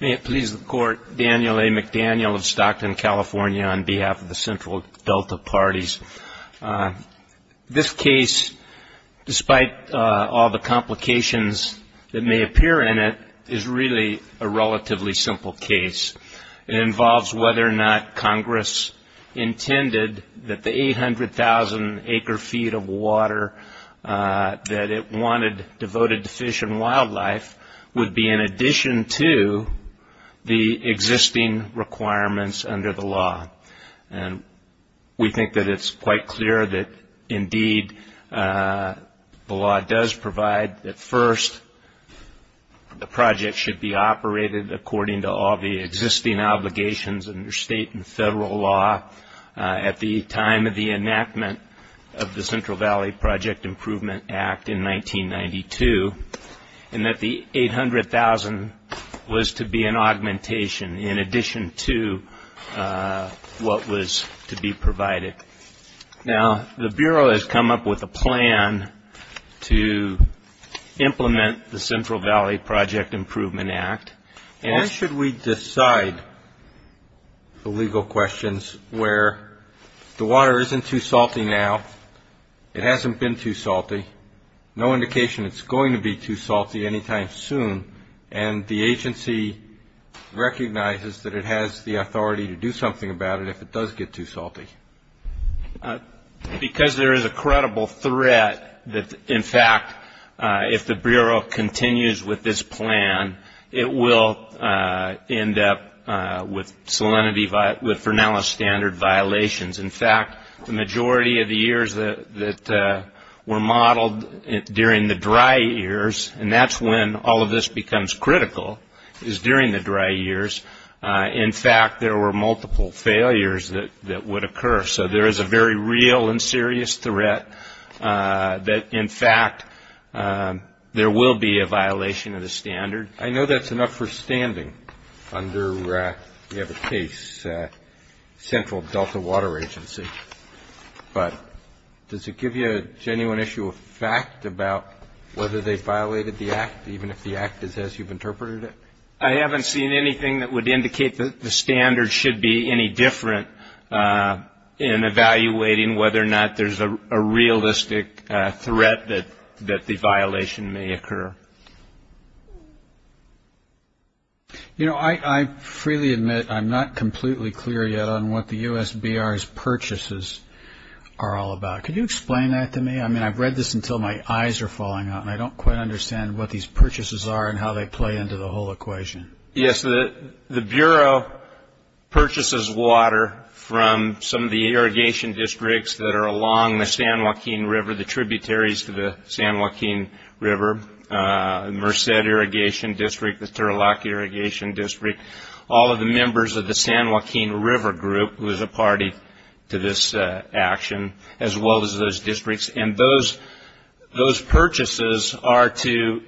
May it please the Court, Daniel A. McDaniel of Stockton, California on behalf of the Central Delta Parties. This case, despite all the complications that may appear in it, is really a relatively simple case. It involves whether or not Congress intended that the 800,000 acre feet of water that it wanted devoted to fish and wildlife would be in addition to the existing requirements under the law. And we think that it's quite clear that indeed the law does provide that first the project should be operated according to all the existing obligations under state and federal law at the time of the enactment of the Central Valley Project Improvement Act in 1992, and that the 800,000 was to be an augmentation in addition to what was to be provided. Now, the Bureau has come up with a plan to implement the Central Valley Project Improvement Act. Why should we decide the legal questions where the water isn't too salty now, it hasn't been too salty, no indication it's going to be too salty any time soon, and the agency recognizes that it has the authority to do something about it if it does get too salty? Because there is a credible threat that, in fact, if the Bureau continues with this plan, it will end up with salinity, with Fresnella standard violations. In fact, the majority of the years that were modeled during the dry years, and that's when all of this becomes critical, is during the dry years, in fact there were multiple failures that would occur. So there is a very real and serious threat that, in fact, there will be a violation of the standard. I know that's enough for standing under, you have a case, Central Delta Water Agency, but does it give you a genuine issue of fact about whether they violated the act, even if the act is as you've interpreted it? I haven't seen anything that would indicate that the standard should be any different in evaluating whether or not there's a realistic threat that the violation may occur. You know, I freely admit I'm not completely clear yet on what the USBR's purchases are all about. Could you explain that to me? I mean, I've read this until my eyes are falling out, and I don't quite understand what these purchases are and how they play into the whole equation. Yes, the Bureau purchases water from some of the irrigation districts that are along the San Joaquin River, the tributaries to the San Joaquin River, Merced Irrigation District, the Turlock Irrigation District, all of the members of the San Joaquin River Group, who is a party to this action, as well as those districts, and those purchases are to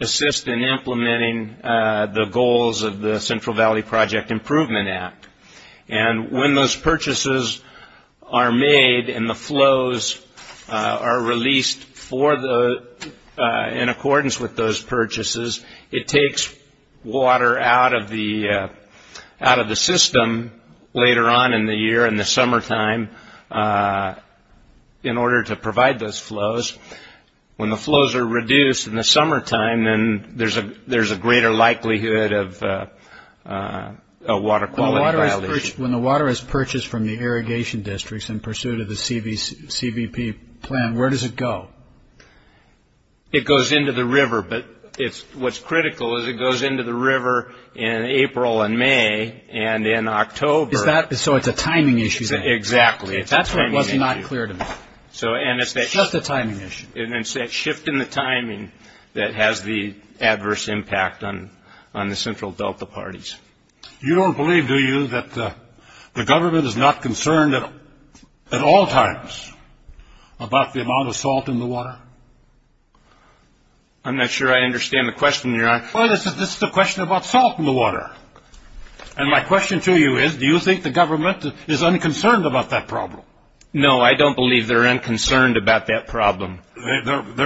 assist in implementing the goals of the Central Valley Project Improvement Act. And when those purchases are made and the flows are released in accordance with those purchases, it takes water out of the system later on in the year, in the summertime, in order to provide those there's a greater likelihood of a water quality violation. When the water is purchased from the irrigation districts in pursuit of the CBP plan, where does it go? It goes into the river, but what's critical is it goes into the river in April and May, and in October. So it's a timing issue, then? Exactly, it's a timing issue. That's what was not clear to me. It's just a timing issue. It's that shift in the timing that has the adverse impact on the central delta parties. You don't believe, do you, that the government is not concerned at all times about the amount of salt in the water? I'm not sure I understand the question, Your Honor. Well, this is a question about salt in the water. And my question to you is, do you think the government is unconcerned about that problem? No, I don't believe they're unconcerned about that problem. They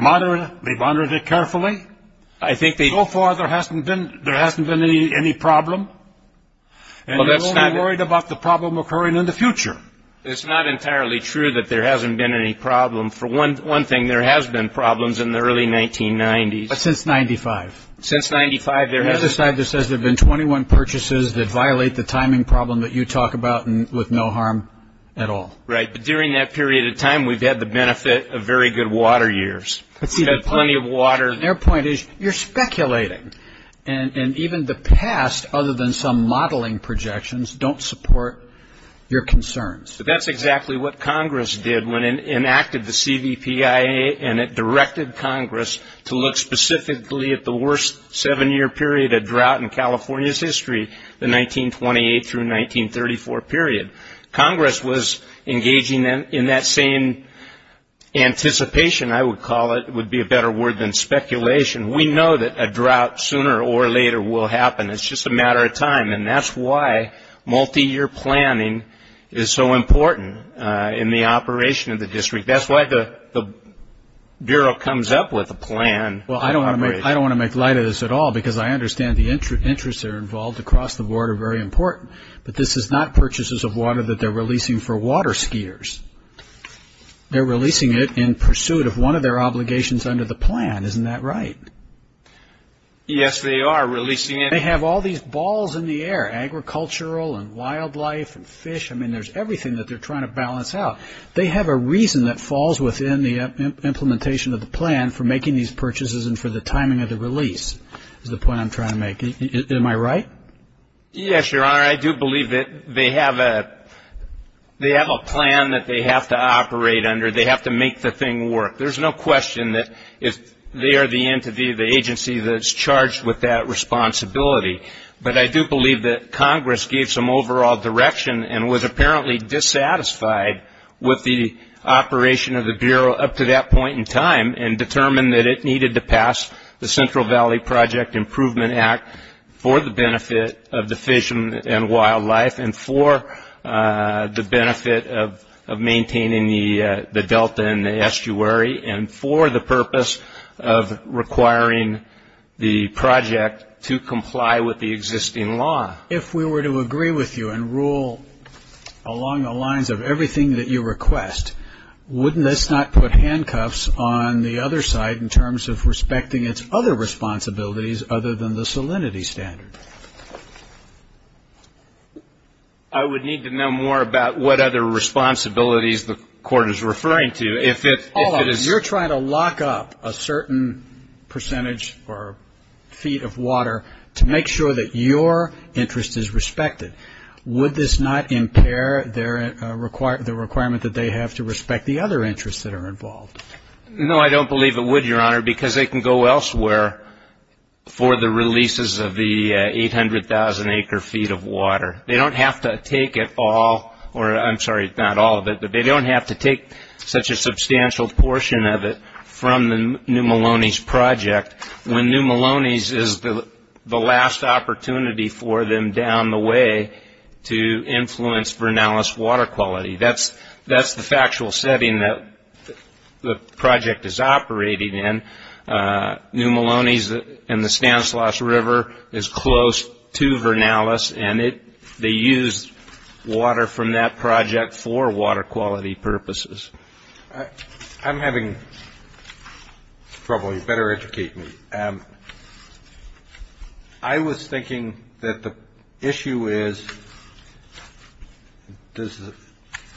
monitored it carefully? I think they... So far, there hasn't been any problem? And you're only worried about the problem occurring in the future? It's not entirely true that there hasn't been any problem. For one thing, there has been problems in the early 1990s. But since 95? Since 95, there hasn't... You have a slide that says there have been 21 purchases that violate the timing problem that you talk about with no harm at all? Right. But during that period of time, we've had the benefit of very good water years. We've had plenty of water... Their point is, you're speculating. And even the past, other than some modeling projections, don't support your concerns. That's exactly what Congress did when it enacted the CVPIA, and it directed Congress to look specifically at the worst seven-year period of drought in California's history, the 1928 through 1934 period. Congress was engaging in that same anticipation, I would call it, would be a better word than speculation. We know that a drought sooner or later will happen. It's just a matter of time, and that's why multi-year planning is so important in the operation of the district. That's why the Bureau comes up with a plan. I don't want to make light of this at all, because I understand the interests that are very important, but this is not purchases of water that they're releasing for water skiers. They're releasing it in pursuit of one of their obligations under the plan. Isn't that right? Yes, they are releasing it. They have all these balls in the air, agricultural and wildlife and fish. I mean, there's everything that they're trying to balance out. They have a reason that falls within the implementation of the plan for making these purchases and for the timing of the release, is the point I'm trying to make. Am I right? Yes, Your Honor. I do believe that they have a plan that they have to operate under. They have to make the thing work. There's no question that they are the entity, the agency, that's charged with that responsibility. But I do believe that Congress gave some overall direction and was apparently dissatisfied with the operation of the Bureau up to that point in time and determined that it needed to pass the Central Valley Project Improvement Act for the benefit of the fish and wildlife and for the benefit of maintaining the delta and the estuary and for the purpose of requiring the project to comply with the existing law. If we were to agree with you and rule along the lines of everything that you request, wouldn't this not put handcuffs on the other side in terms of respecting its other responsibilities other than the salinity standard? I would need to know more about what other responsibilities the Court is referring to. Hold on. You're trying to lock up a certain percentage or feet of water to make sure that your interest is respected. Would this not impair the requirement that they have to respect the other interests that are involved? No, I don't believe it would, Your Honor, because they can go elsewhere for the releases of the 800,000 acre feet of water. They don't have to take it all or I'm sorry, not all of it, but they don't have to take such a substantial portion of it from the New Maloney's project when New Maloney's is the last opportunity for them down the way to influence Vernalis water quality. That's the factual setting that the project is operating in. New Maloney's and the Stanislaus River is close to Vernalis and they use water from that project for water quality purposes. I'm having trouble. You better educate me. I was thinking that the issue is does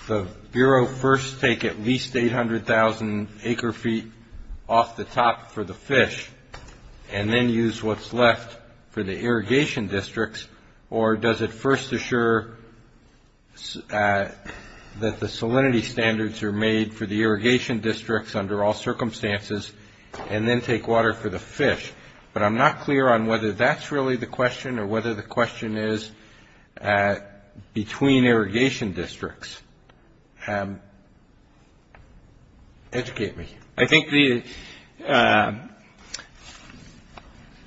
the Bureau first take at least 800,000 acre feet off the top for the fish and then use what's left for the irrigation districts or does it first assure that the salinity standards are made for the irrigation districts under all circumstances and then take water for the fish, but I'm not clear on whether that's really the question or whether the question is between irrigation districts. Educate me. I think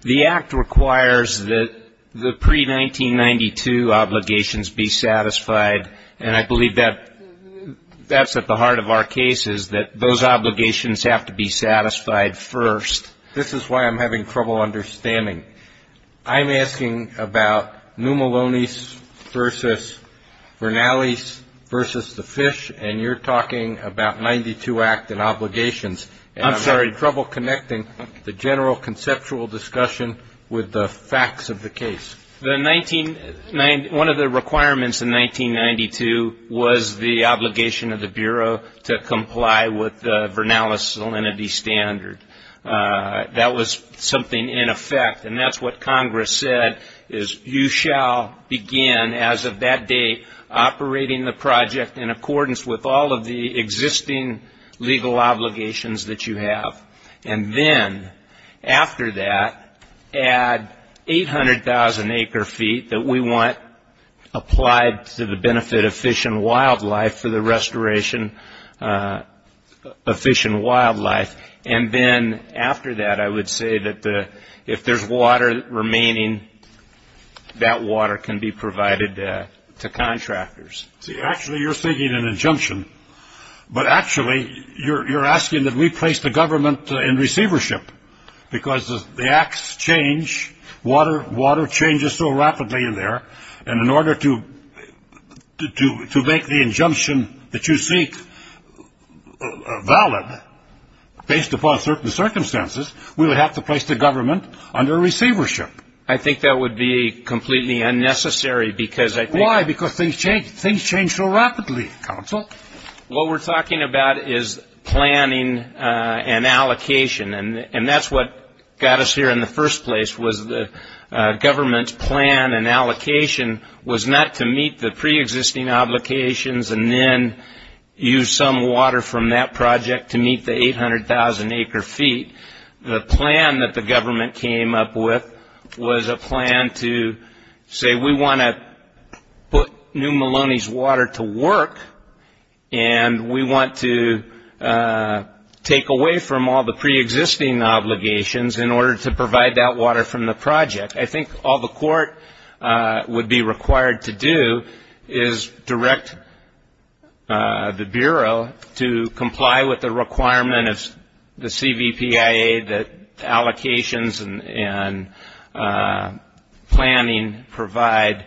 the Act requires that the pre-1992 obligations be satisfied and I believe that that's at the heart of our case is that those obligations have to be satisfied first. This is why I'm having trouble understanding. I'm asking about New Maloney's versus Vernalis versus the fish and you're talking about 92 Act and obligations. I'm sorry. And I'm having trouble connecting the general conceptual discussion with the facts of the case. One of the requirements in 1992 was the obligation of the Bureau to comply with the Vernalis salinity standard. That was something in effect and that's what Congress said is you shall begin as of that day operating the project in accordance with all of the existing legal obligations that you have and then after that add 800,000 acre feet that we want applied to the benefit of fish and wildlife for the restoration of fish and wildlife and then after that I would say that if there's water remaining, that water can be provided to contractors. See actually you're seeking an injunction but actually you're asking that we place the government in receivership because the Acts change, water changes so rapidly in there and in order to make the injunction that you seek valid based upon certain circumstances, we would have to place the government under receivership. I think that would be completely unnecessary because I think things change so rapidly, counsel. What we're talking about is planning and allocation and that's what got us here in the first place was the government's plan and allocation was not to meet the pre-existing obligations and then use some water from that project to meet the 800,000 acre feet. The plan that the government came up with was a plan to say we want to put new Maloney's water to work and we want to take away from all the pre-existing obligations in order to provide that water from the project. I think all the court would be required to do is direct the Bureau to comply with the requirement of the CVPIA that allocations and planning provide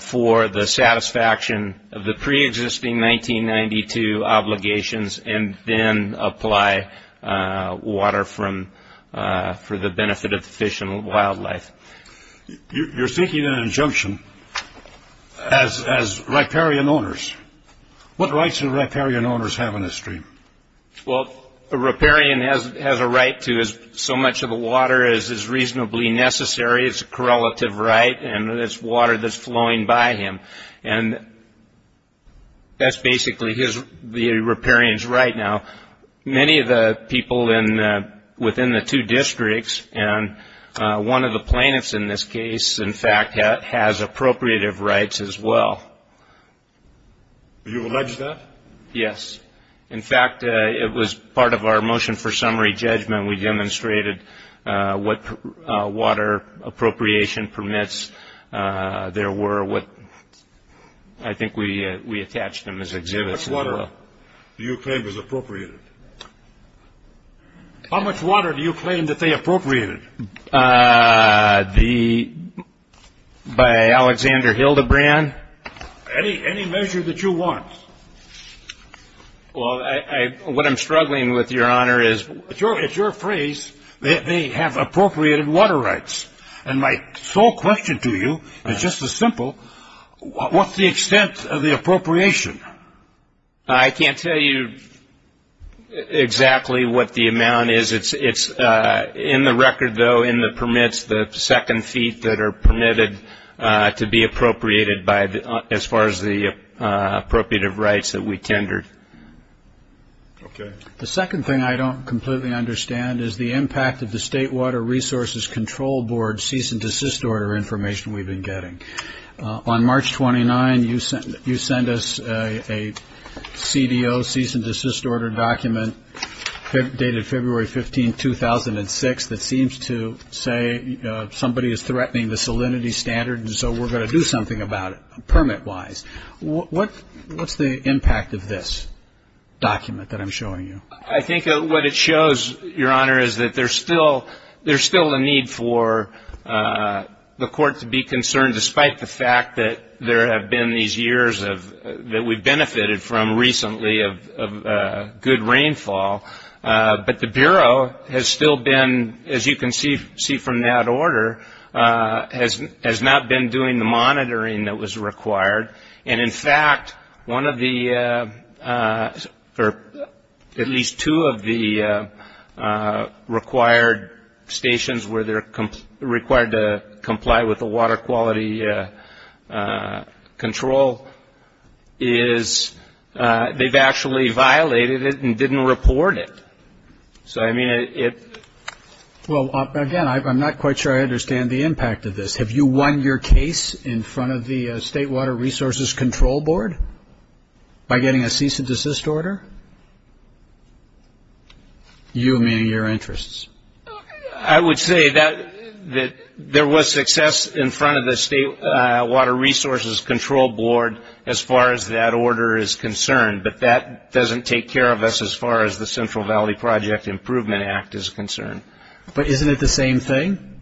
for the satisfaction of the pre-existing 1992 obligations and then apply water for the benefit of fish and wildlife. You're seeking an injunction as riparian owners. What rights do riparian owners have in this case? A riparian has a right to as much of the water as is reasonably necessary. It's a correlative right and it's water that's flowing by him. That's basically the riparian's right now. Many of the people within the two districts and one of the plaintiffs in this case in fact has appropriative rights as well. Do you allege that? Yes. In fact, it was part of our motion for summary judgment. We demonstrated what water appropriation permits there were. I think we attached them as exhibits as well. How much water do you claim is appropriated? How much water do you claim that they appropriated? By Alexander Hildebrand. Any measure that you want. What I'm struggling with, Your Honor, is... It's your phrase that they have appropriated water rights. My sole question to you is just as simple, what's the extent of the appropriation? I can't tell you exactly what the amount is. It's in the record though in the permits, the second feet that are permitted to be appropriated as far as the appropriative rights that we tendered. The second thing I don't completely understand is the impact of the State Water Resources Control Board cease and desist order information we've been getting. On March 29, you sent us a CDO cease and desist order document dated February 15, 2006 that seems to say that the somebody is threatening the salinity standard and so we're going to do something about it permit-wise. What's the impact of this document that I'm showing you? I think what it shows, Your Honor, is that there's still a need for the Court to be concerned despite the fact that there have been these years that we've benefited from recently of good rainfall, but the Bureau has still been, as you can see from that order, has not been doing the monitoring that was required. In fact, one of the, or at least two of the required stations where they're required to comply with the water quality control is they've actually violated it and didn't report it. So, I mean, it... Well, again, I'm not quite sure I understand the impact of this. Have you won your case in front of the State Water Resources Control Board by getting a cease and desist order? You and your interests. I would say that there was success in front of the State Water Resources Control Board as far as that order is concerned, but that doesn't take care of us as far as the Central Valley Project Improvement Act is concerned. But isn't it the same thing?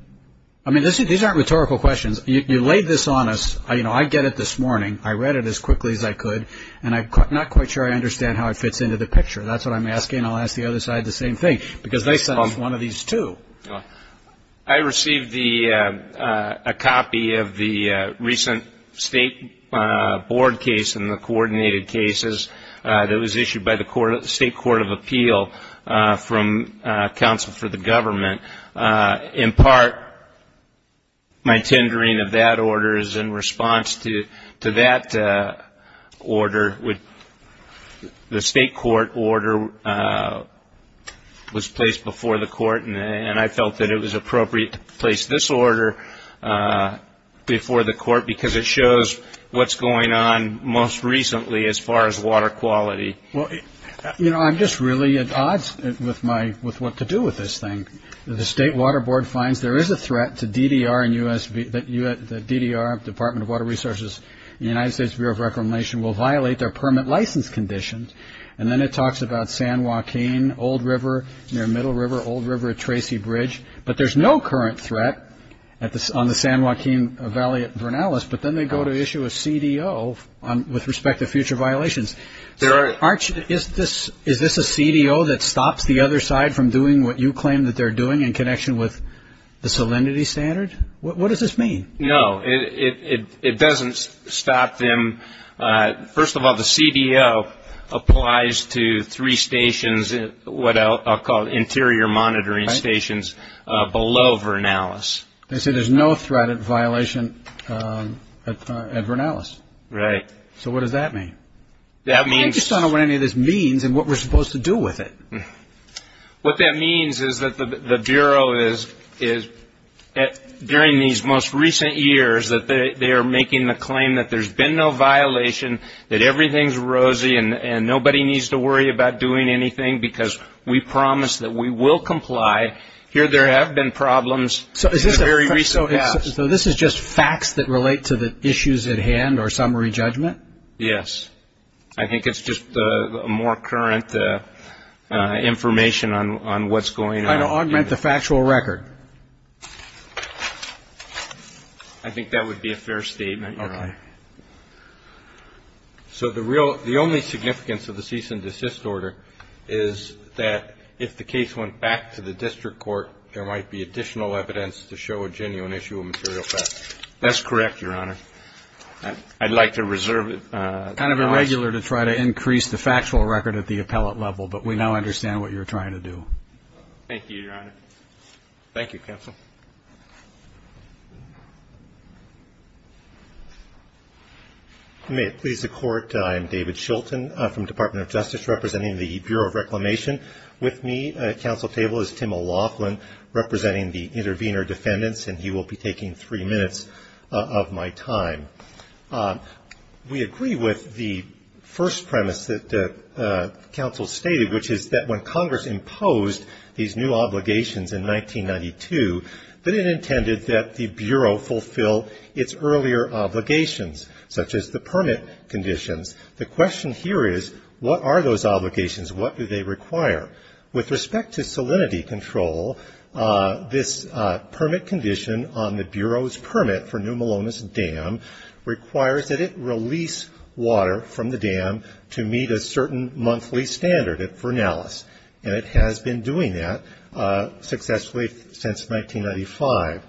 I mean, these aren't rhetorical questions. You laid this on us. I get it this morning. I read it as quickly as I could and I'm not quite sure I understand how it fits into the picture. That's what I'm asking. I'll ask the other side the same thing because they sent us one of these, too. I received a copy of the recent State Board case and the coordinated cases that was issued by the State Court of Appeal from Counsel for the Government. In part, my tendering of that order is in response to that order. The State Court order was placed before the court. I felt that it was appropriate to place this order before the court because it shows what's going on most recently as far as water quality. I'm just really at odds with what to do with this thing. The State Water Board finds there is a threat that the DDR, Department of Water Resources, and the United States Bureau of Reclamation will violate their permit license conditions. And then it talks about San Joaquin, Old River near Middle River, Old River at Tracy Bridge. But there's no current threat on the San Joaquin Valley at Vernalis. But then they go to issue a CDO with respect to future violations. Arch, is this a CDO that stops the other side from doing what you claim that they're doing in connection with the salinity standard? What does this mean? No. It doesn't stop them. First of all, the CDO applies to three stations, what I'll call interior monitoring stations, below Vernalis. They say there's no threat of violation at Vernalis. Right. So what does that mean? That means... I just don't know what any of this means and what we're supposed to do with it. What that means is that the Bureau is, during these most recent years, that they are making the claim that there's been no violation, that everything's rosy and nobody needs to worry about doing anything because we promise that we will comply. Here there have been problems in the very recent past. So this is just facts that relate to the issues at hand or summary judgment? Yes. I think it's just more current information on what's going on. Trying to augment the factual record? I think that would be a fair statement, Your Honor. Okay. So the real, the only significance of the cease and desist order is that if the case went back to the district court, there might be additional evidence to show a genuine issue of material theft. That's correct, Your Honor. I'd like to reserve... It's kind of irregular to try to increase the factual record at the appellate level, but we now understand what you're trying to do. Thank you, Your Honor. Thank you, Counsel. May it please the Court, I am David Shilton from the Department of Justice, representing the Bureau of Reclamation. With me at counsel table is Tim O'Loughlin, representing the We agree with the first premise that counsel stated, which is that when Congress imposed these new obligations in 1992, that it intended that the Bureau fulfill its earlier obligations, such as the permit conditions. The question here is, what are those obligations? What do they require? With respect to salinity control, this permit condition on the Bureau's permit for New Jerusalem requires that it release water from the dam to meet a certain monthly standard at Vernalis, and it has been doing that successfully since 1995.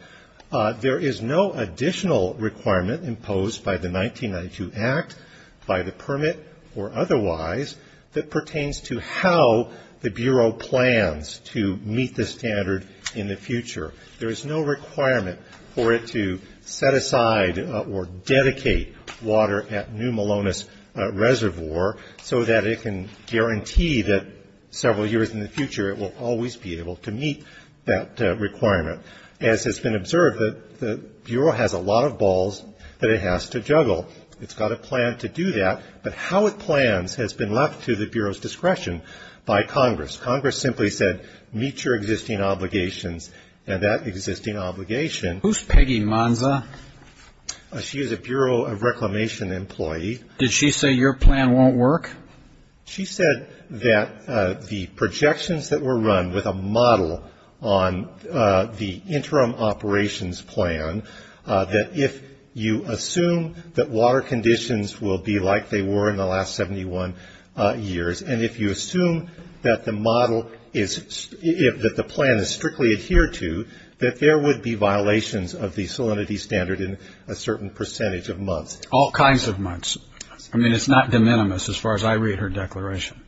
There is no additional requirement imposed by the 1992 Act, by the permit or otherwise, that pertains to how the Bureau plans to meet this standard in the future. There is no requirement for it to set aside or dedicate water at New Malonis Reservoir so that it can guarantee that several years in the future it will always be able to meet that requirement. As has been observed, the Bureau has a lot of balls that it has to juggle. It's got a plan to do that, but how it plans has been left to the Bureau's discretion by Congress. Congress simply said, meet your existing obligations, and that existing obligation Who's Peggy Monza? She is a Bureau of Reclamation employee. Did she say your plan won't work? She said that the projections that were run with a model on the interim operations plan, that if you assume that water conditions will be like they were in the last 71 years, and if you assume that the model is, that the plan is strictly adhered to, that there would be violations of the salinity standard in a certain percentage of months. All kinds of months. I mean, it's not de minimis as far as I read her declaration.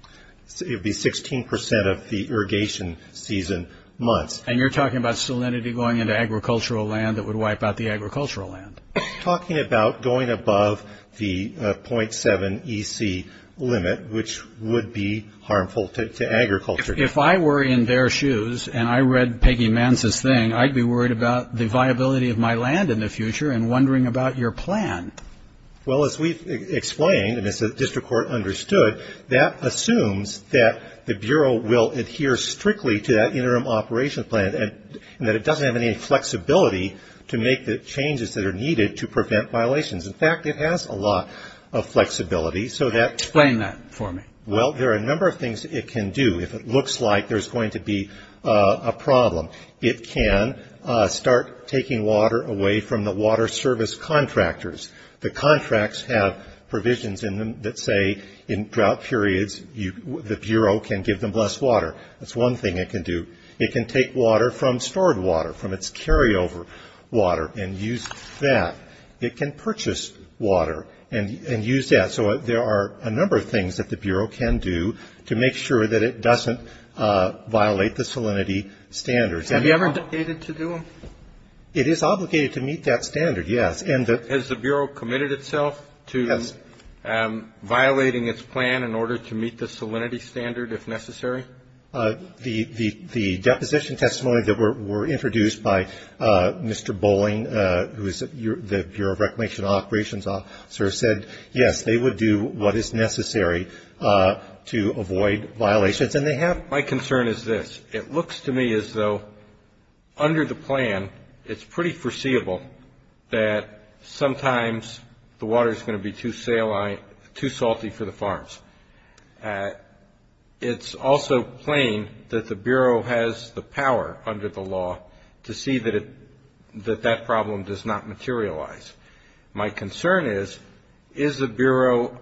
It would be 16 percent of the irrigation season months. And you're talking about salinity going into agricultural land that would wipe out the agricultural land. I'm talking about going above the .7 EC limit, which would be harmful to agriculture. If I were in their shoes, and I read Peggy Monza's thing, I'd be worried about the viability of my land in the future and wondering about your plan. Well, as we've explained, and as the district court understood, that assumes that the Bureau will adhere strictly to that interim operations plan, and that it doesn't have any flexibility to make the changes that are needed to prevent violations. In fact, it has a lot of flexibility, so that... Explain that for me. Well, there are a number of things it can do. If it looks like there's going to be a problem, it can start taking water away from the water service contractors. The contracts have provisions in them that say in drought periods, the Bureau can give them less water. That's one thing it can do. It can take water from stored water, from its carryover water, and use that. It can purchase water and use that. So there are a number of things that the Bureau can do to make sure that it doesn't violate the salinity standards. Have you ever had to do them? It is obligated to meet that standard, yes. Has the Bureau committed itself to violating its plan in order to meet the salinity standard, if necessary? The deposition testimony that were introduced by Mr. Bowling, who is the Bureau of Reclamation Operations Officer, said, yes, they would do what is necessary to avoid violations. And they have. My concern is this. It looks to me as though under the plan, it's pretty foreseeable that sometimes the water is going to be too salty for the farms. It's also plain that the Bureau has the power under the law to see that that problem does not materialize. My concern is, is the Bureau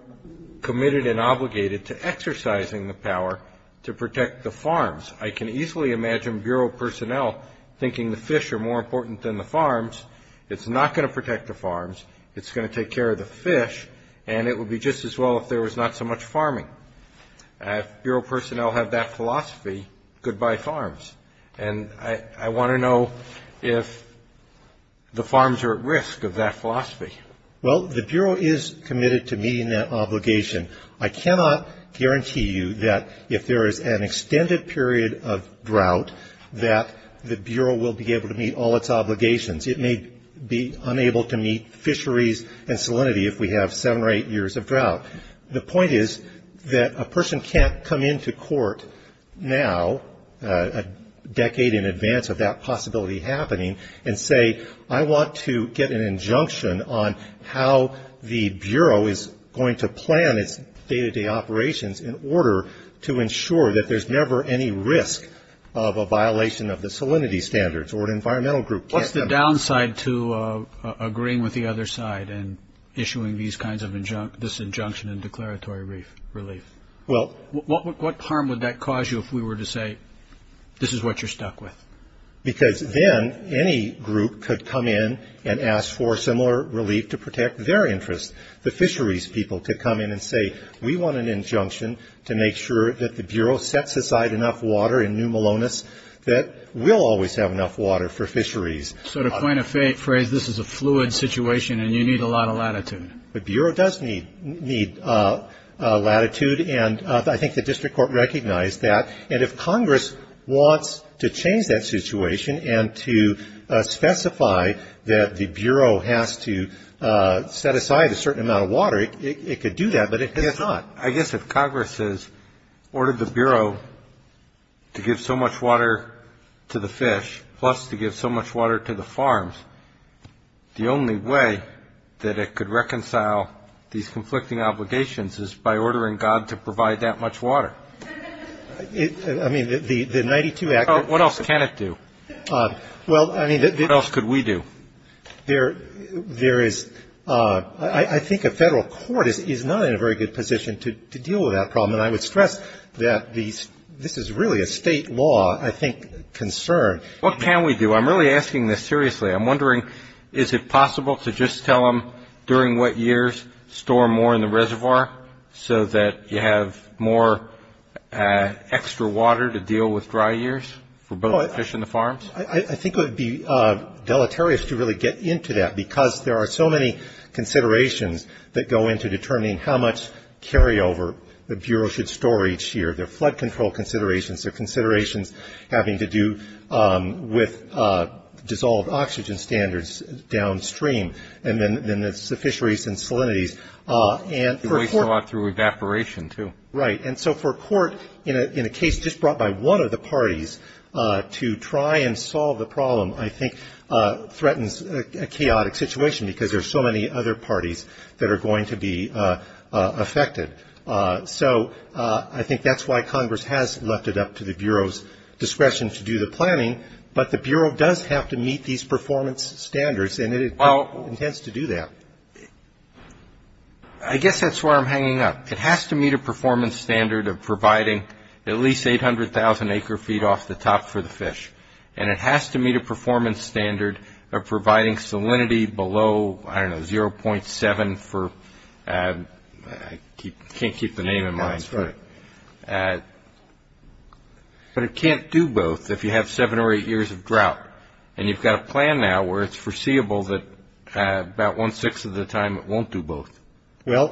committed and obligated to exercising the power to protect the farms? I can easily imagine Bureau personnel thinking the fish are more important than the farms. It's not going to protect the farms. It's going to take care of the fish. And it would be just as well if there was not so much farming. If Bureau personnel have that philosophy, goodbye farms. And I want to know if the farms are at risk of that philosophy. Well, the Bureau is committed to meeting that obligation. I cannot guarantee you that if there is an extended period of drought, that the Bureau will be able to meet all its obligations. It may be unable to meet fisheries and salinity if we have seven or eight years of drought. The point is that a person can't come into court now, a decade in advance of that possibility happening, and say, I want to get an injunction on how the Bureau is going to plan its day-to-day operations in order to ensure that there's never any risk of a violation of the salinity standards What's the downside to agreeing with the other side and issuing this injunction and declaratory relief? What harm would that cause you if we were to say, this is what you're stuck with? Because then any group could come in and ask for similar relief to protect their interests. The fisheries people could come in and say, we want an injunction to make sure that the Bureau sets aside enough water in New Melonis that we'll always have enough water for fisheries. So to coin a phrase, this is a fluid situation, and you need a lot of latitude. The Bureau does need latitude, and I think the district court recognized that. And if Congress wants to change that situation and to specify that the Bureau has to set aside a certain amount of water, it could do that, but it has not. I guess if Congress has ordered the Bureau to give so much water to the fish, plus to give so much water to the farms, the only way that it could reconcile these conflicting obligations is by ordering God to provide that much water. I mean, the 92 Act. What else can it do? Well, I mean. What else could we do? There is. I think a federal court is not in a very good position to deal with that problem, and I would stress that this is really a state law, I think, concern. What can we do? I'm really asking this seriously. I'm wondering, is it possible to just tell them during what years, store more in the reservoir, so that you have more extra water to deal with dry years for both the fish and the farms? I think it would be deleterious to really get into that, because there are so many considerations that go into determining how much carryover the Bureau should store each year. There are flood control considerations. There are considerations having to do with dissolved oxygen standards downstream. And then there's the fisheries and salinities. It wastes a lot through evaporation too. Right. And so for a court in a case just brought by one of the parties to try and solve the problem, I think threatens a chaotic situation, because there are so many other parties that are going to be affected. So I think that's why Congress has left it up to the Bureau's discretion to do the planning, but the Bureau does have to meet these performance standards, and it intends to do that. I guess that's where I'm hanging up. It has to meet a performance standard of providing at least 800,000 acre-feet off the top for the fish, and it has to meet a performance standard of providing salinity below, I don't know, 0.7 for, I can't keep the name in mind. That's right. But it can't do both if you have seven or eight years of drought, and you've got a plan now where it's foreseeable that about one-sixth of the time it won't do both. Well,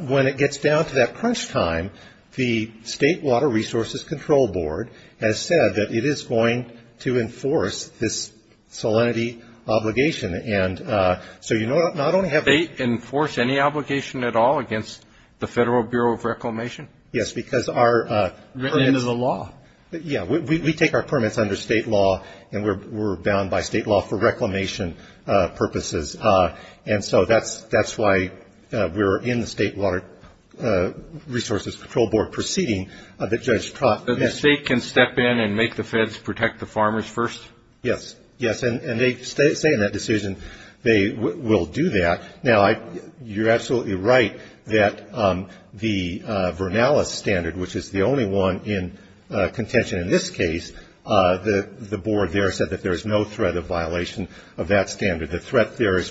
when it gets down to that crunch time, the State Water Resources Control Board has said that it is going to enforce this salinity obligation, and so you not only have to State enforce any obligation at all against the Federal Bureau of Reclamation? Yes, because our Written into the law. Yeah, we take our permits under state law, and we're bound by state law for reclamation purposes, and so that's why we're in the State Water Resources Control Board proceeding that Judge Trott The state can step in and make the feds protect the farmers first? Yes, yes, and they say in that decision they will do that. Now, you're absolutely right that the Vernalis standard, which is the only one in contention in this case, the board there said that there is no threat of violation of that standard. The threat there is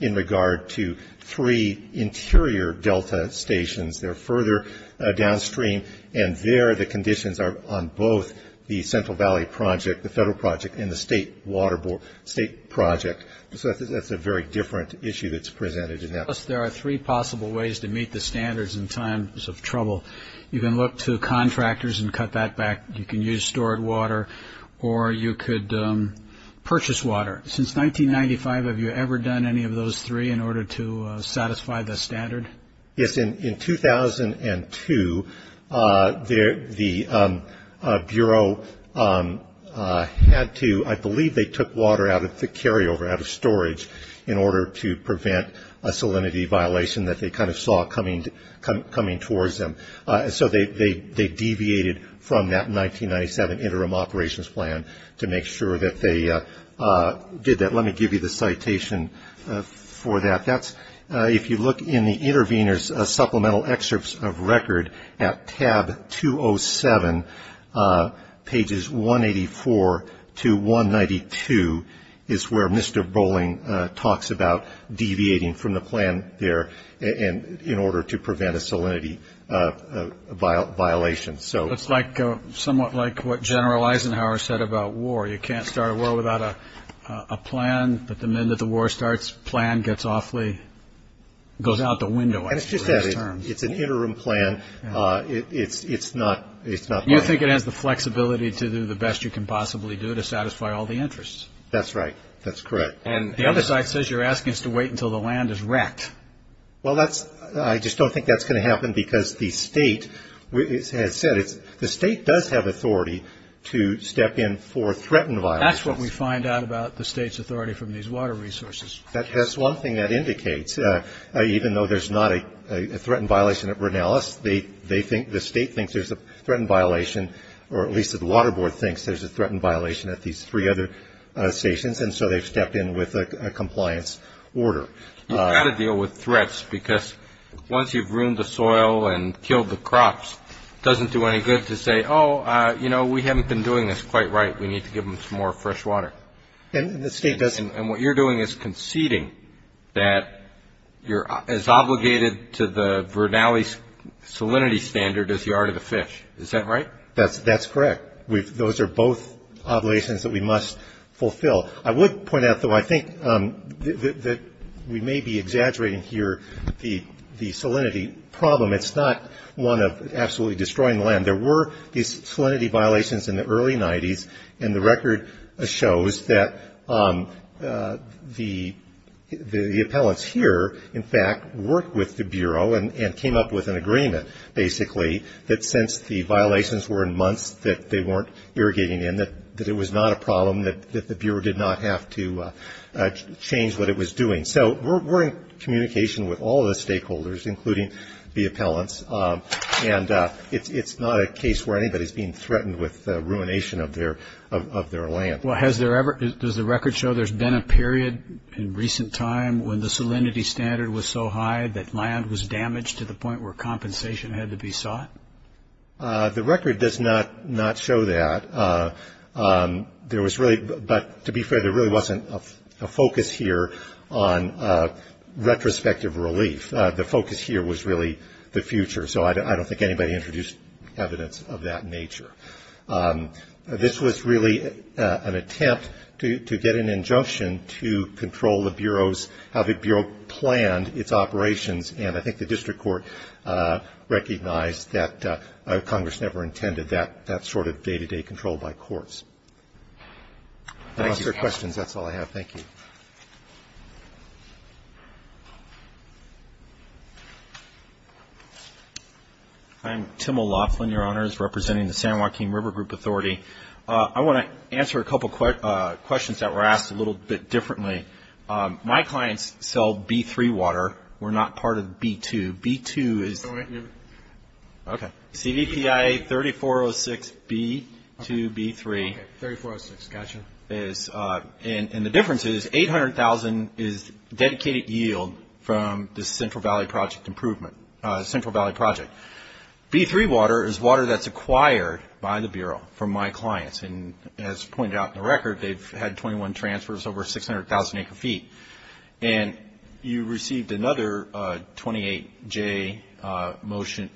in regard to three interior delta stations. They're further downstream, and there the conditions are on both the Central Valley project, the federal project, and the state project, so that's a very different issue that's presented in that. There are three possible ways to meet the standards in times of trouble. You can look to contractors and cut that back. You can use stored water, or you could purchase water. Since 1995, have you ever done any of those three in order to satisfy the standard? Yes. In 2002, the Bureau had to, I believe they took water out of the carryover, out of storage, in order to prevent a salinity violation that they kind of saw coming towards them, so they deviated from that 1997 interim operations plan to make sure that they did that. Let me give you the citation for that. If you look in the intervener's supplemental excerpts of record at tab 207, pages 184 to 192, is where Mr. Boling talks about deviating from the plan there in order to prevent a salinity violation. It's somewhat like what General Eisenhower said about war. You can't start a war without a plan, but the minute the war starts, the plan goes out the window after the last term. It's an interim plan. You think it has the flexibility to do the best you can possibly do to satisfy all the interests? That's right. That's correct. And the other side says you're asking us to wait until the land is wrecked. Well, I just don't think that's going to happen because the State has said it's – the State does have authority to step in for threatened violations. That's what we find out about the State's authority from these water resources. That's one thing that indicates, even though there's not a threatened violation at Ronellis, the State thinks there's a threatened violation, or at least the Water Board thinks there's a threatened violation at these three other stations, and so they've stepped in with a compliance order. You've got to deal with threats because once you've ruined the soil and killed the crops, it doesn't do any good to say, oh, you know, we haven't been doing this quite right. We need to give them some more fresh water. And the State doesn't – And what you're doing is conceding that you're as obligated to the Ronellis salinity standard as you are to the fish. Is that right? That's correct. Those are both obligations that we must fulfill. I would point out, though, I think that we may be exaggerating here the salinity problem. It's not one of absolutely destroying the land. There were these salinity violations in the early 90s, and the record shows that the appellants here, in fact, worked with the Bureau and came up with an agreement, basically, that since the violations were in months that they weren't irrigating in, that it was not a problem, that the Bureau did not have to change what it was doing. So we're in communication with all of the stakeholders, including the appellants, and it's not a case where anybody is being threatened with the ruination of their land. Well, has there ever – does the record show there's been a period in recent time when the salinity standard was so high that land was damaged to the point where compensation had to be sought? The record does not show that. There was really – but to be fair, there really wasn't a focus here on retrospective relief. The focus here was really the future, so I don't think anybody introduced evidence of that nature. This was really an attempt to get an injunction to control the Bureau's – how the Bureau planned its operations, and I think the district court recognized that Congress never intended that sort of day-to-day control by courts. I lost your questions. That's all I have. Thank you. I'm Tim O'Loughlin, Your Honors, representing the San Joaquin River Group Authority. I want to answer a couple of questions that were asked a little bit differently. My clients sell B-3 water. We're not part of B-2. B-2 is – Go ahead. Okay. CVPI 3406B-2B-3. Okay, 3406, got you. And the difference is 800,000 is dedicated yield from the Central Valley Project improvement – Central Valley Project. B-3 water is water that's acquired by the Bureau from my clients, and as pointed out in the record, they've had 21 transfers over 600,000 acre-feet. And you received another 28J motion,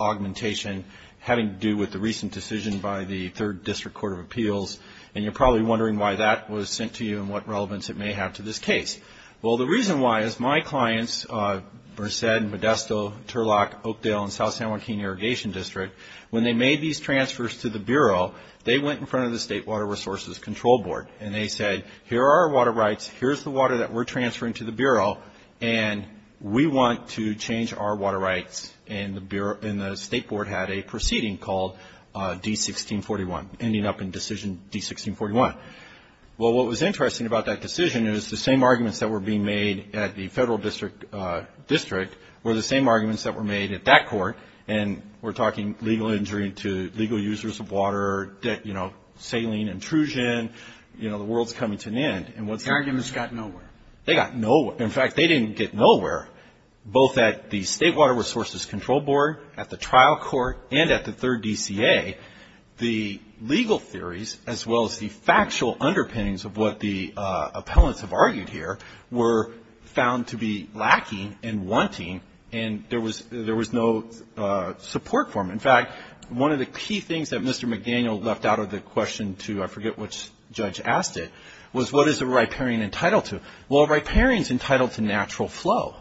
augmentation, having to do with the recent decision by the 3rd District Court of Appeals, and you're probably wondering why that was sent to you and what relevance it may have to this case. Well, the reason why is my clients, Berced, Modesto, Turlock, Oakdale, and South San Joaquin Irrigation District, when they made these transfers to the Bureau, they went in front of the State Water Resources Control Board, and they said, here are our water rights, here's the water that we're transferring to the Bureau, and we want to change our water rights. And the State Board had a proceeding called D-1641, ending up in Decision D-1641. Well, what was interesting about that decision is the same arguments that were being made at the Federal District were the same arguments that were made at that court, and we're talking legal injury to legal users of water, saline intrusion, the world's coming to an end. The arguments got nowhere. They got nowhere. In fact, they didn't get nowhere, both at the State Water Resources Control Board, at the trial court, and at the 3rd DCA. The legal theories, as well as the factual underpinnings of what the appellants have argued here, were found to be lacking and wanting, and there was no support for them. In fact, one of the key things that Mr. McDaniel left out of the question to, I forget which judge asked it, was what is a riparian entitled to? Well, a riparian is entitled to natural flow.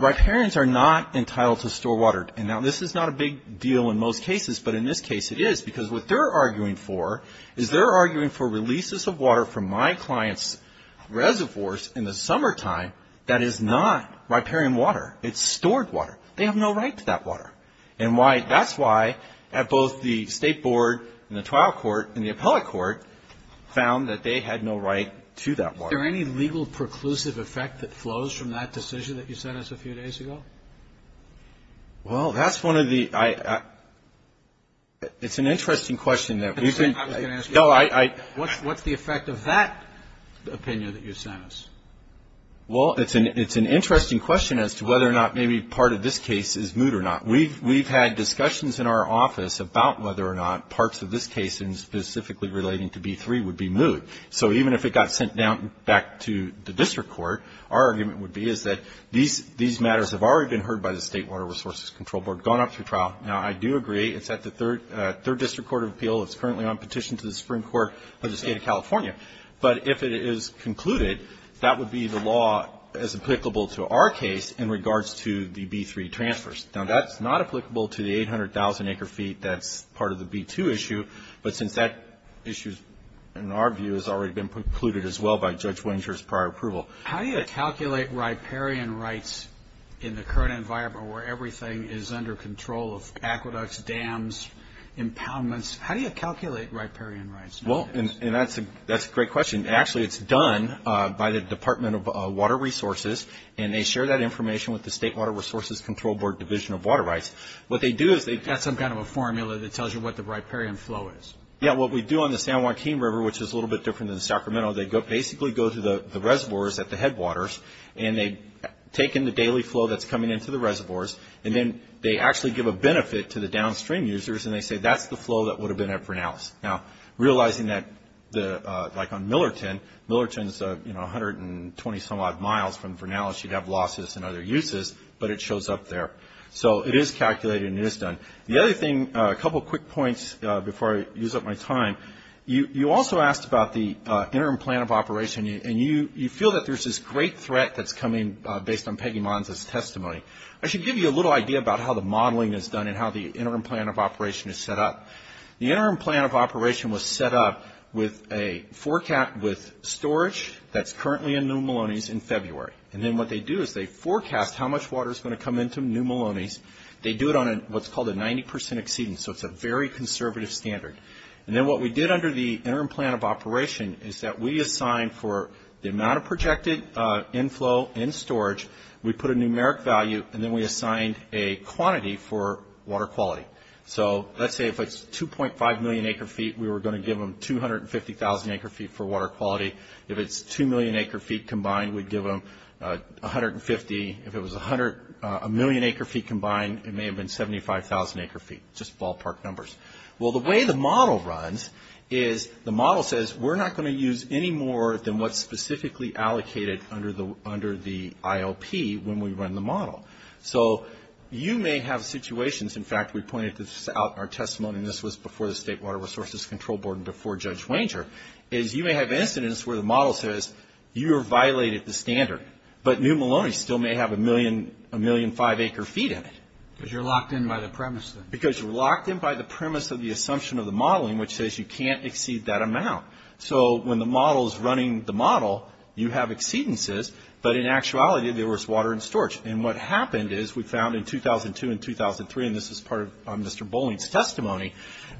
Riparians are not entitled to store water. Now, this is not a big deal in most cases, but in this case it is, because what they're arguing for is they're arguing for releases of water from my client's reservoirs in the summertime that is not riparian water. It's stored water. They have no right to that water. That's why at both the State Board and the trial court and the appellate court found that they had no right to that water. Is there any legal preclusive effect that flows from that decision that you sent us a few days ago? Well, that's one of the ‑‑ it's an interesting question. I was going to ask you, what's the effect of that opinion that you sent us? Well, it's an interesting question as to whether or not maybe part of this case is moot or not. We've had discussions in our office about whether or not parts of this case, and specifically relating to B3, would be moot. So even if it got sent back to the district court, our argument would be is that these matters have already been heard by the State Water Resources Control Board, gone up through trial. Now, I do agree it's at the Third District Court of Appeal. It's currently on petition to the Supreme Court of the State of California. But if it is concluded, that would be the law as applicable to our case in regards to the B3 transfers. Now, that's not applicable to the 800,000 acre feet that's part of the B2 issue. But since that issue, in our view, has already been concluded as well by Judge Wenger's prior approval. How do you calculate riparian rights in the current environment where everything is under control of aqueducts, dams, impoundments? How do you calculate riparian rights? Well, and that's a great question. Actually, it's done by the Department of Water Resources, and they share that information with the State Water Resources Control Board Division of Water Rights. What they do is they... That's some kind of a formula that tells you what the riparian flow is. Yeah, what we do on the San Joaquin River, which is a little bit different than Sacramento, they basically go to the reservoirs at the headwaters, and they take in the daily flow that's coming into the reservoirs, and then they actually give a benefit to the downstream users, and they say that's the flow that would have been at Vernalis. Now, realizing that, like on Millerton, Millerton is 120-some-odd miles from Vernalis. You'd have losses and other uses, but it shows up there. So it is calculated and it is done. The other thing, a couple of quick points before I use up my time. You also asked about the interim plan of operation, and you feel that there's this great threat that's coming based on Peggy Mons' testimony. I should give you a little idea about how the modeling is done and how the interim plan of operation is set up. The interim plan of operation was set up with a forecast with storage that's currently in New Maloney's in February. And then what they do is they forecast how much water is going to come into New Maloney's. They do it on what's called a 90% exceedance, so it's a very conservative standard. And then what we did under the interim plan of operation is that we assigned for the amount of projected inflow and storage, we put a numeric value, and then we assigned a quantity for water quality. So let's say if it's 2.5 million acre-feet, we were going to give them 250,000 acre-feet for water quality. If it's 2 million acre-feet combined, we'd give them 150. If it was a million acre-feet combined, it may have been 75,000 acre-feet, just ballpark numbers. Well, the way the model runs is the model says we're not going to use any more than what's specifically allocated under the IOP when we run the model. So you may have situations, in fact, we pointed this out in our testimony, and this was before the State Water Resources Control Board and before Judge Wenger, is you may have incidents where the model says you have violated the standard, but New Maloney's still may have a million, five acre-feet in it. Because you're locked in by the premise then. Because you're locked in by the premise of the assumption of the modeling, which says you can't exceed that amount. So when the model is running the model, you have exceedances, but in actuality, there was water in storage. And what happened is we found in 2002 and 2003, and this is part of Mr. Bolling's testimony,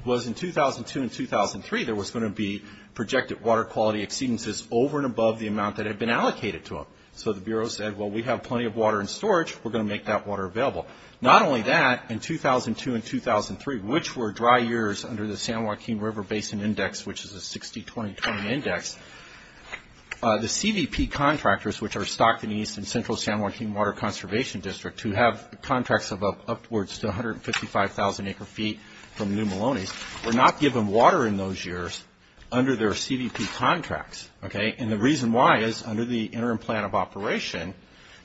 was in 2002 and 2003, there was going to be projected water quality exceedances over and above the amount that had been allocated to them. So the Bureau said, well, we have plenty of water in storage. We're going to make that water available. Not only that, in 2002 and 2003, which were dry years under the San Joaquin River Basin Index, which is a 60-20-20 index, the CVP contractors, which are Stockton East and Central San Joaquin Water Conservation District, who have contracts of upwards to 155,000 acre-feet from New Maloney's, were not given water in those years under their CVP contracts. And the reason why is under the interim plan of operation,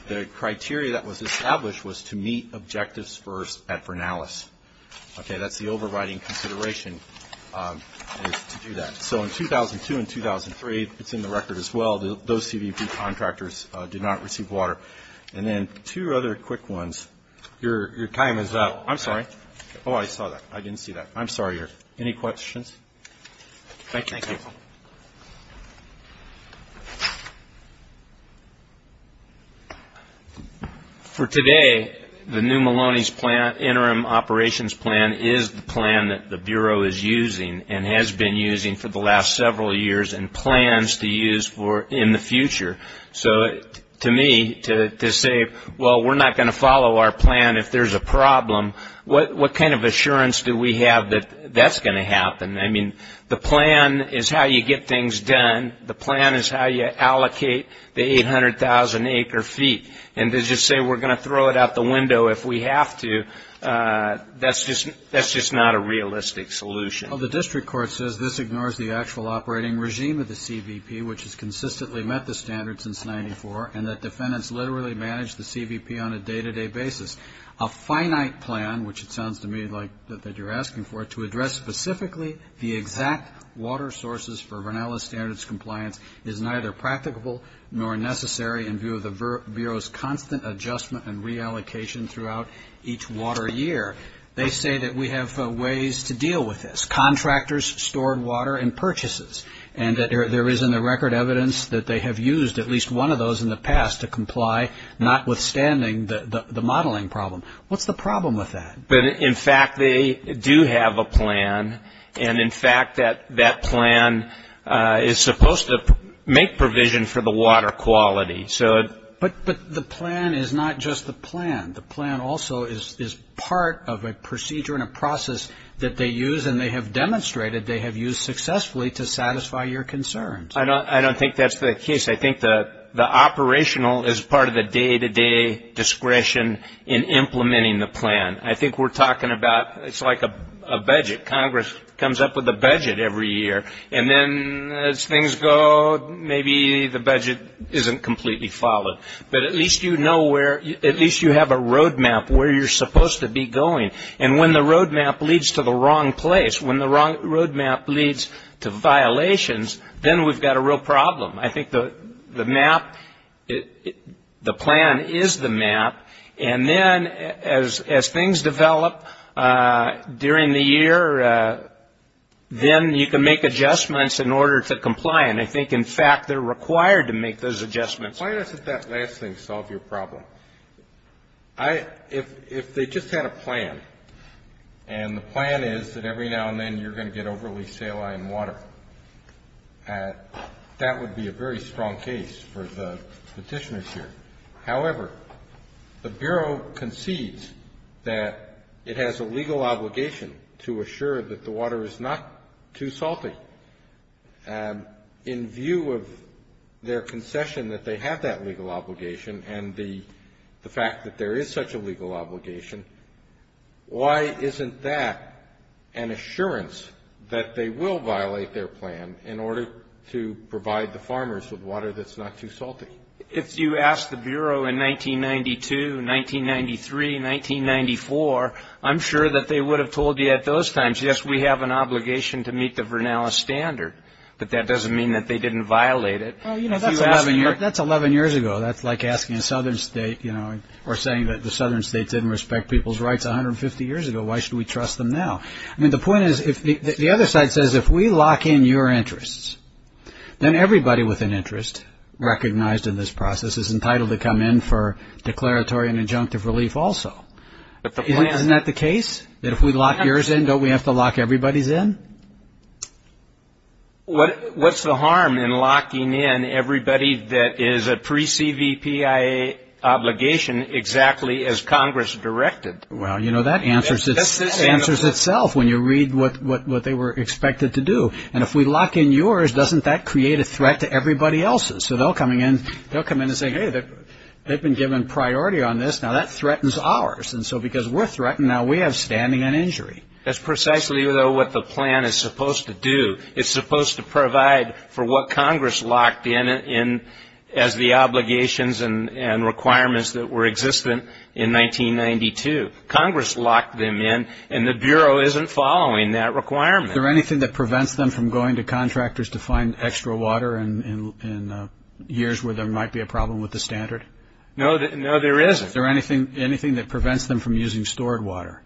the criteria that was established was to meet objectives first at Vernalis. Okay, that's the overriding consideration is to do that. So in 2002 and 2003, it's in the record as well, those CVP contractors did not receive water. And then two other quick ones. Your time is up. I'm sorry. Oh, I saw that. I didn't see that. I'm sorry. Any questions? Thank you. Okay. For today, the New Maloney's interim operations plan is the plan that the Bureau is using and has been using for the last several years and plans to use in the future. So to me, to say, well, we're not going to follow our plan if there's a problem, what kind of assurance do we have that that's going to happen? I mean, the plan is how you get things done. The plan is how you allocate the 800,000 acre feet. And to just say we're going to throw it out the window if we have to, that's just not a realistic solution. Well, the district court says this ignores the actual operating regime of the CVP, which has consistently met the standards since 94, and that defendants literally manage the CVP on a day-to-day basis. A finite plan, which it sounds to me like that you're asking for, to address specifically the exact water sources for Vernella standards compliance, is neither practicable nor necessary in view of the Bureau's constant adjustment and reallocation throughout each water year. They say that we have ways to deal with this, contractors, stored water, and purchases, and that there is in the record evidence that they have used at least one of those in the past to comply, notwithstanding the modeling problem. What's the problem with that? In fact, they do have a plan, and in fact, that plan is supposed to make provision for the water quality. But the plan is not just the plan. The plan also is part of a procedure and a process that they use, and they have demonstrated they have used successfully to satisfy your concerns. I don't think that's the case. I think the operational is part of the day-to-day discretion in implementing the plan. I think we're talking about, it's like a budget. Congress comes up with a budget every year, and then as things go, maybe the budget isn't completely followed. But at least you know where, at least you have a roadmap where you're supposed to be going. And when the roadmap leads to the wrong place, when the roadmap leads to violations, then we've got a real problem. I think the map, the plan is the map, and then as things develop during the year, then you can make adjustments in order to comply. And I think, in fact, they're required to make those adjustments. Why doesn't that last thing solve your problem? If they just had a plan, and the plan is that every now and then you're going to get overly saline water, that would be a very strong case for the petitioners here. However, the Bureau concedes that it has a legal obligation to assure that the water is not too salty. In view of their concession that they have that legal obligation and the fact that there is such a legal obligation, why isn't that an assurance that they will violate their plan in order to provide the farmers with water that's not too salty? If you ask the Bureau in 1992, 1993, 1994, I'm sure that they would have told you at those times, yes, we have an obligation to meet the Vernalis Standard, but that doesn't mean that they didn't violate it. That's 11 years ago. That's like asking a southern state or saying that the southern states didn't respect people's rights 150 years ago. Why should we trust them now? I mean, the point is, the other side says, if we lock in your interests, then everybody with an interest recognized in this process is entitled to come in for declaratory and injunctive relief also. Isn't that the case, that if we lock yours in, don't we have to lock everybody's in? What's the harm in locking in everybody that is a pre-CVPIA obligation exactly as Congress directed? Well, you know, that answers itself when you read what they were expected to do. And if we lock in yours, doesn't that create a threat to everybody else's? So they'll come in and say, hey, they've been given priority on this, now that threatens ours. And so because we're threatened, now we have standing on injury. That's precisely, though, what the plan is supposed to do. It's supposed to provide for what Congress locked in as the obligations and requirements that were existent in 1992. Congress locked them in, and the Bureau isn't following that requirement. Is there anything that prevents them from going to contractors to find extra water in years where there might be a problem with the standard? No, there isn't. Is there anything that prevents them from using stored water?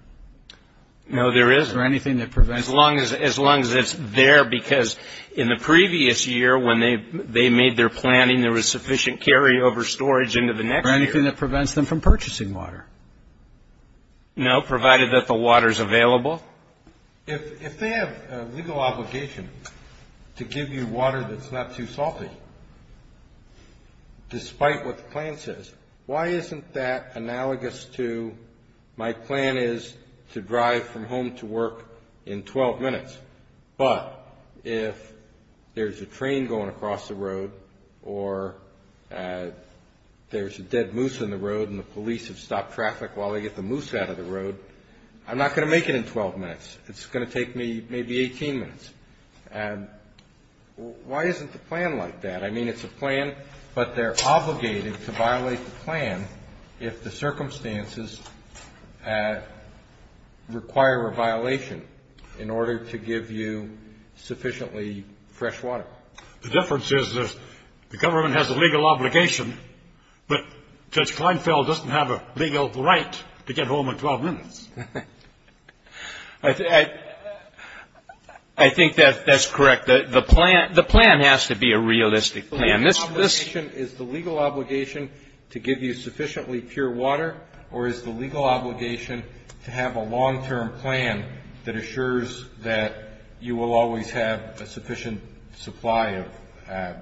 No, there isn't. Is there anything that prevents them? As long as it's there, because in the previous year when they made their planning, there was sufficient carryover storage into the next year. Is there anything that prevents them from purchasing water? No, provided that the water is available. If they have a legal obligation to give you water that's not too salty, despite what the plan says, why isn't that analogous to my plan is to drive from home to work in 12 minutes, but if there's a train going across the road or there's a dead moose in the road and the police have stopped traffic while they get the moose out of the road, I'm not going to make it in 12 minutes. It's going to take me maybe 18 minutes. And why isn't the plan like that? I mean it's a plan, but they're obligated to violate the plan if the circumstances require a violation in order to give you sufficiently fresh water. The difference is the government has a legal obligation, but Judge Kleinfeld doesn't have a legal right to get home in 12 minutes. I think that's correct. The plan has to be a realistic plan. Is the legal obligation to give you sufficiently pure water, or is the legal obligation to have a long-term plan that assures that you will always have a sufficient supply of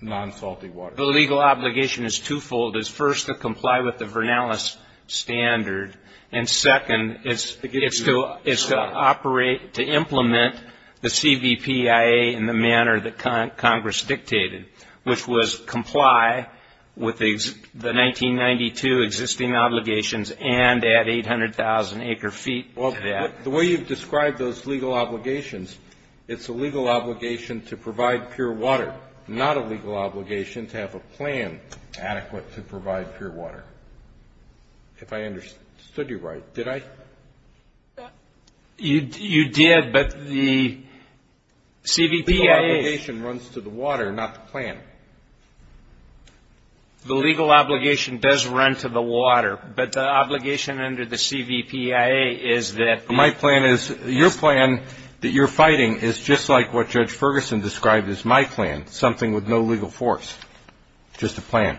non-salty water? The legal obligation is twofold. It's first to comply with the Vernalis standard, and second, it's to operate, to implement the CVPIA in the manner that Congress dictated, which was comply with the 1992 existing obligations and add 800,000 acre feet to that. Well, the way you've described those legal obligations, it's a legal obligation to provide pure water, not a legal obligation to have a plan adequate to provide pure water, if I understood you right. Did I? You did, but the CVPIA – The legal obligation runs to the water, not the plan. The legal obligation does run to the water, but the obligation under the CVPIA is that – So my plan is – your plan that you're fighting is just like what Judge Ferguson described as my plan, something with no legal force, just a plan.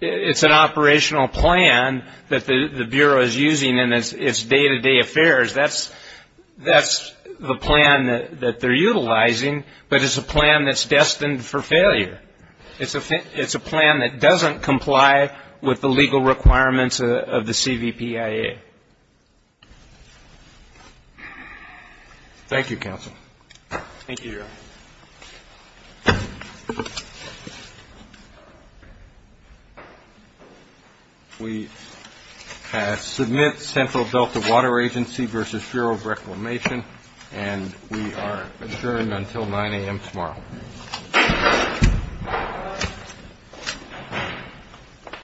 It's an operational plan that the Bureau is using in its day-to-day affairs. That's the plan that they're utilizing, but it's a plan that's destined for failure. It's a plan that doesn't comply with the legal requirements of the CVPIA. Thank you, counsel. We submit Central Delta Water Agency v. Bureau of Reclamation, and we are adjourned until 9 a.m. tomorrow.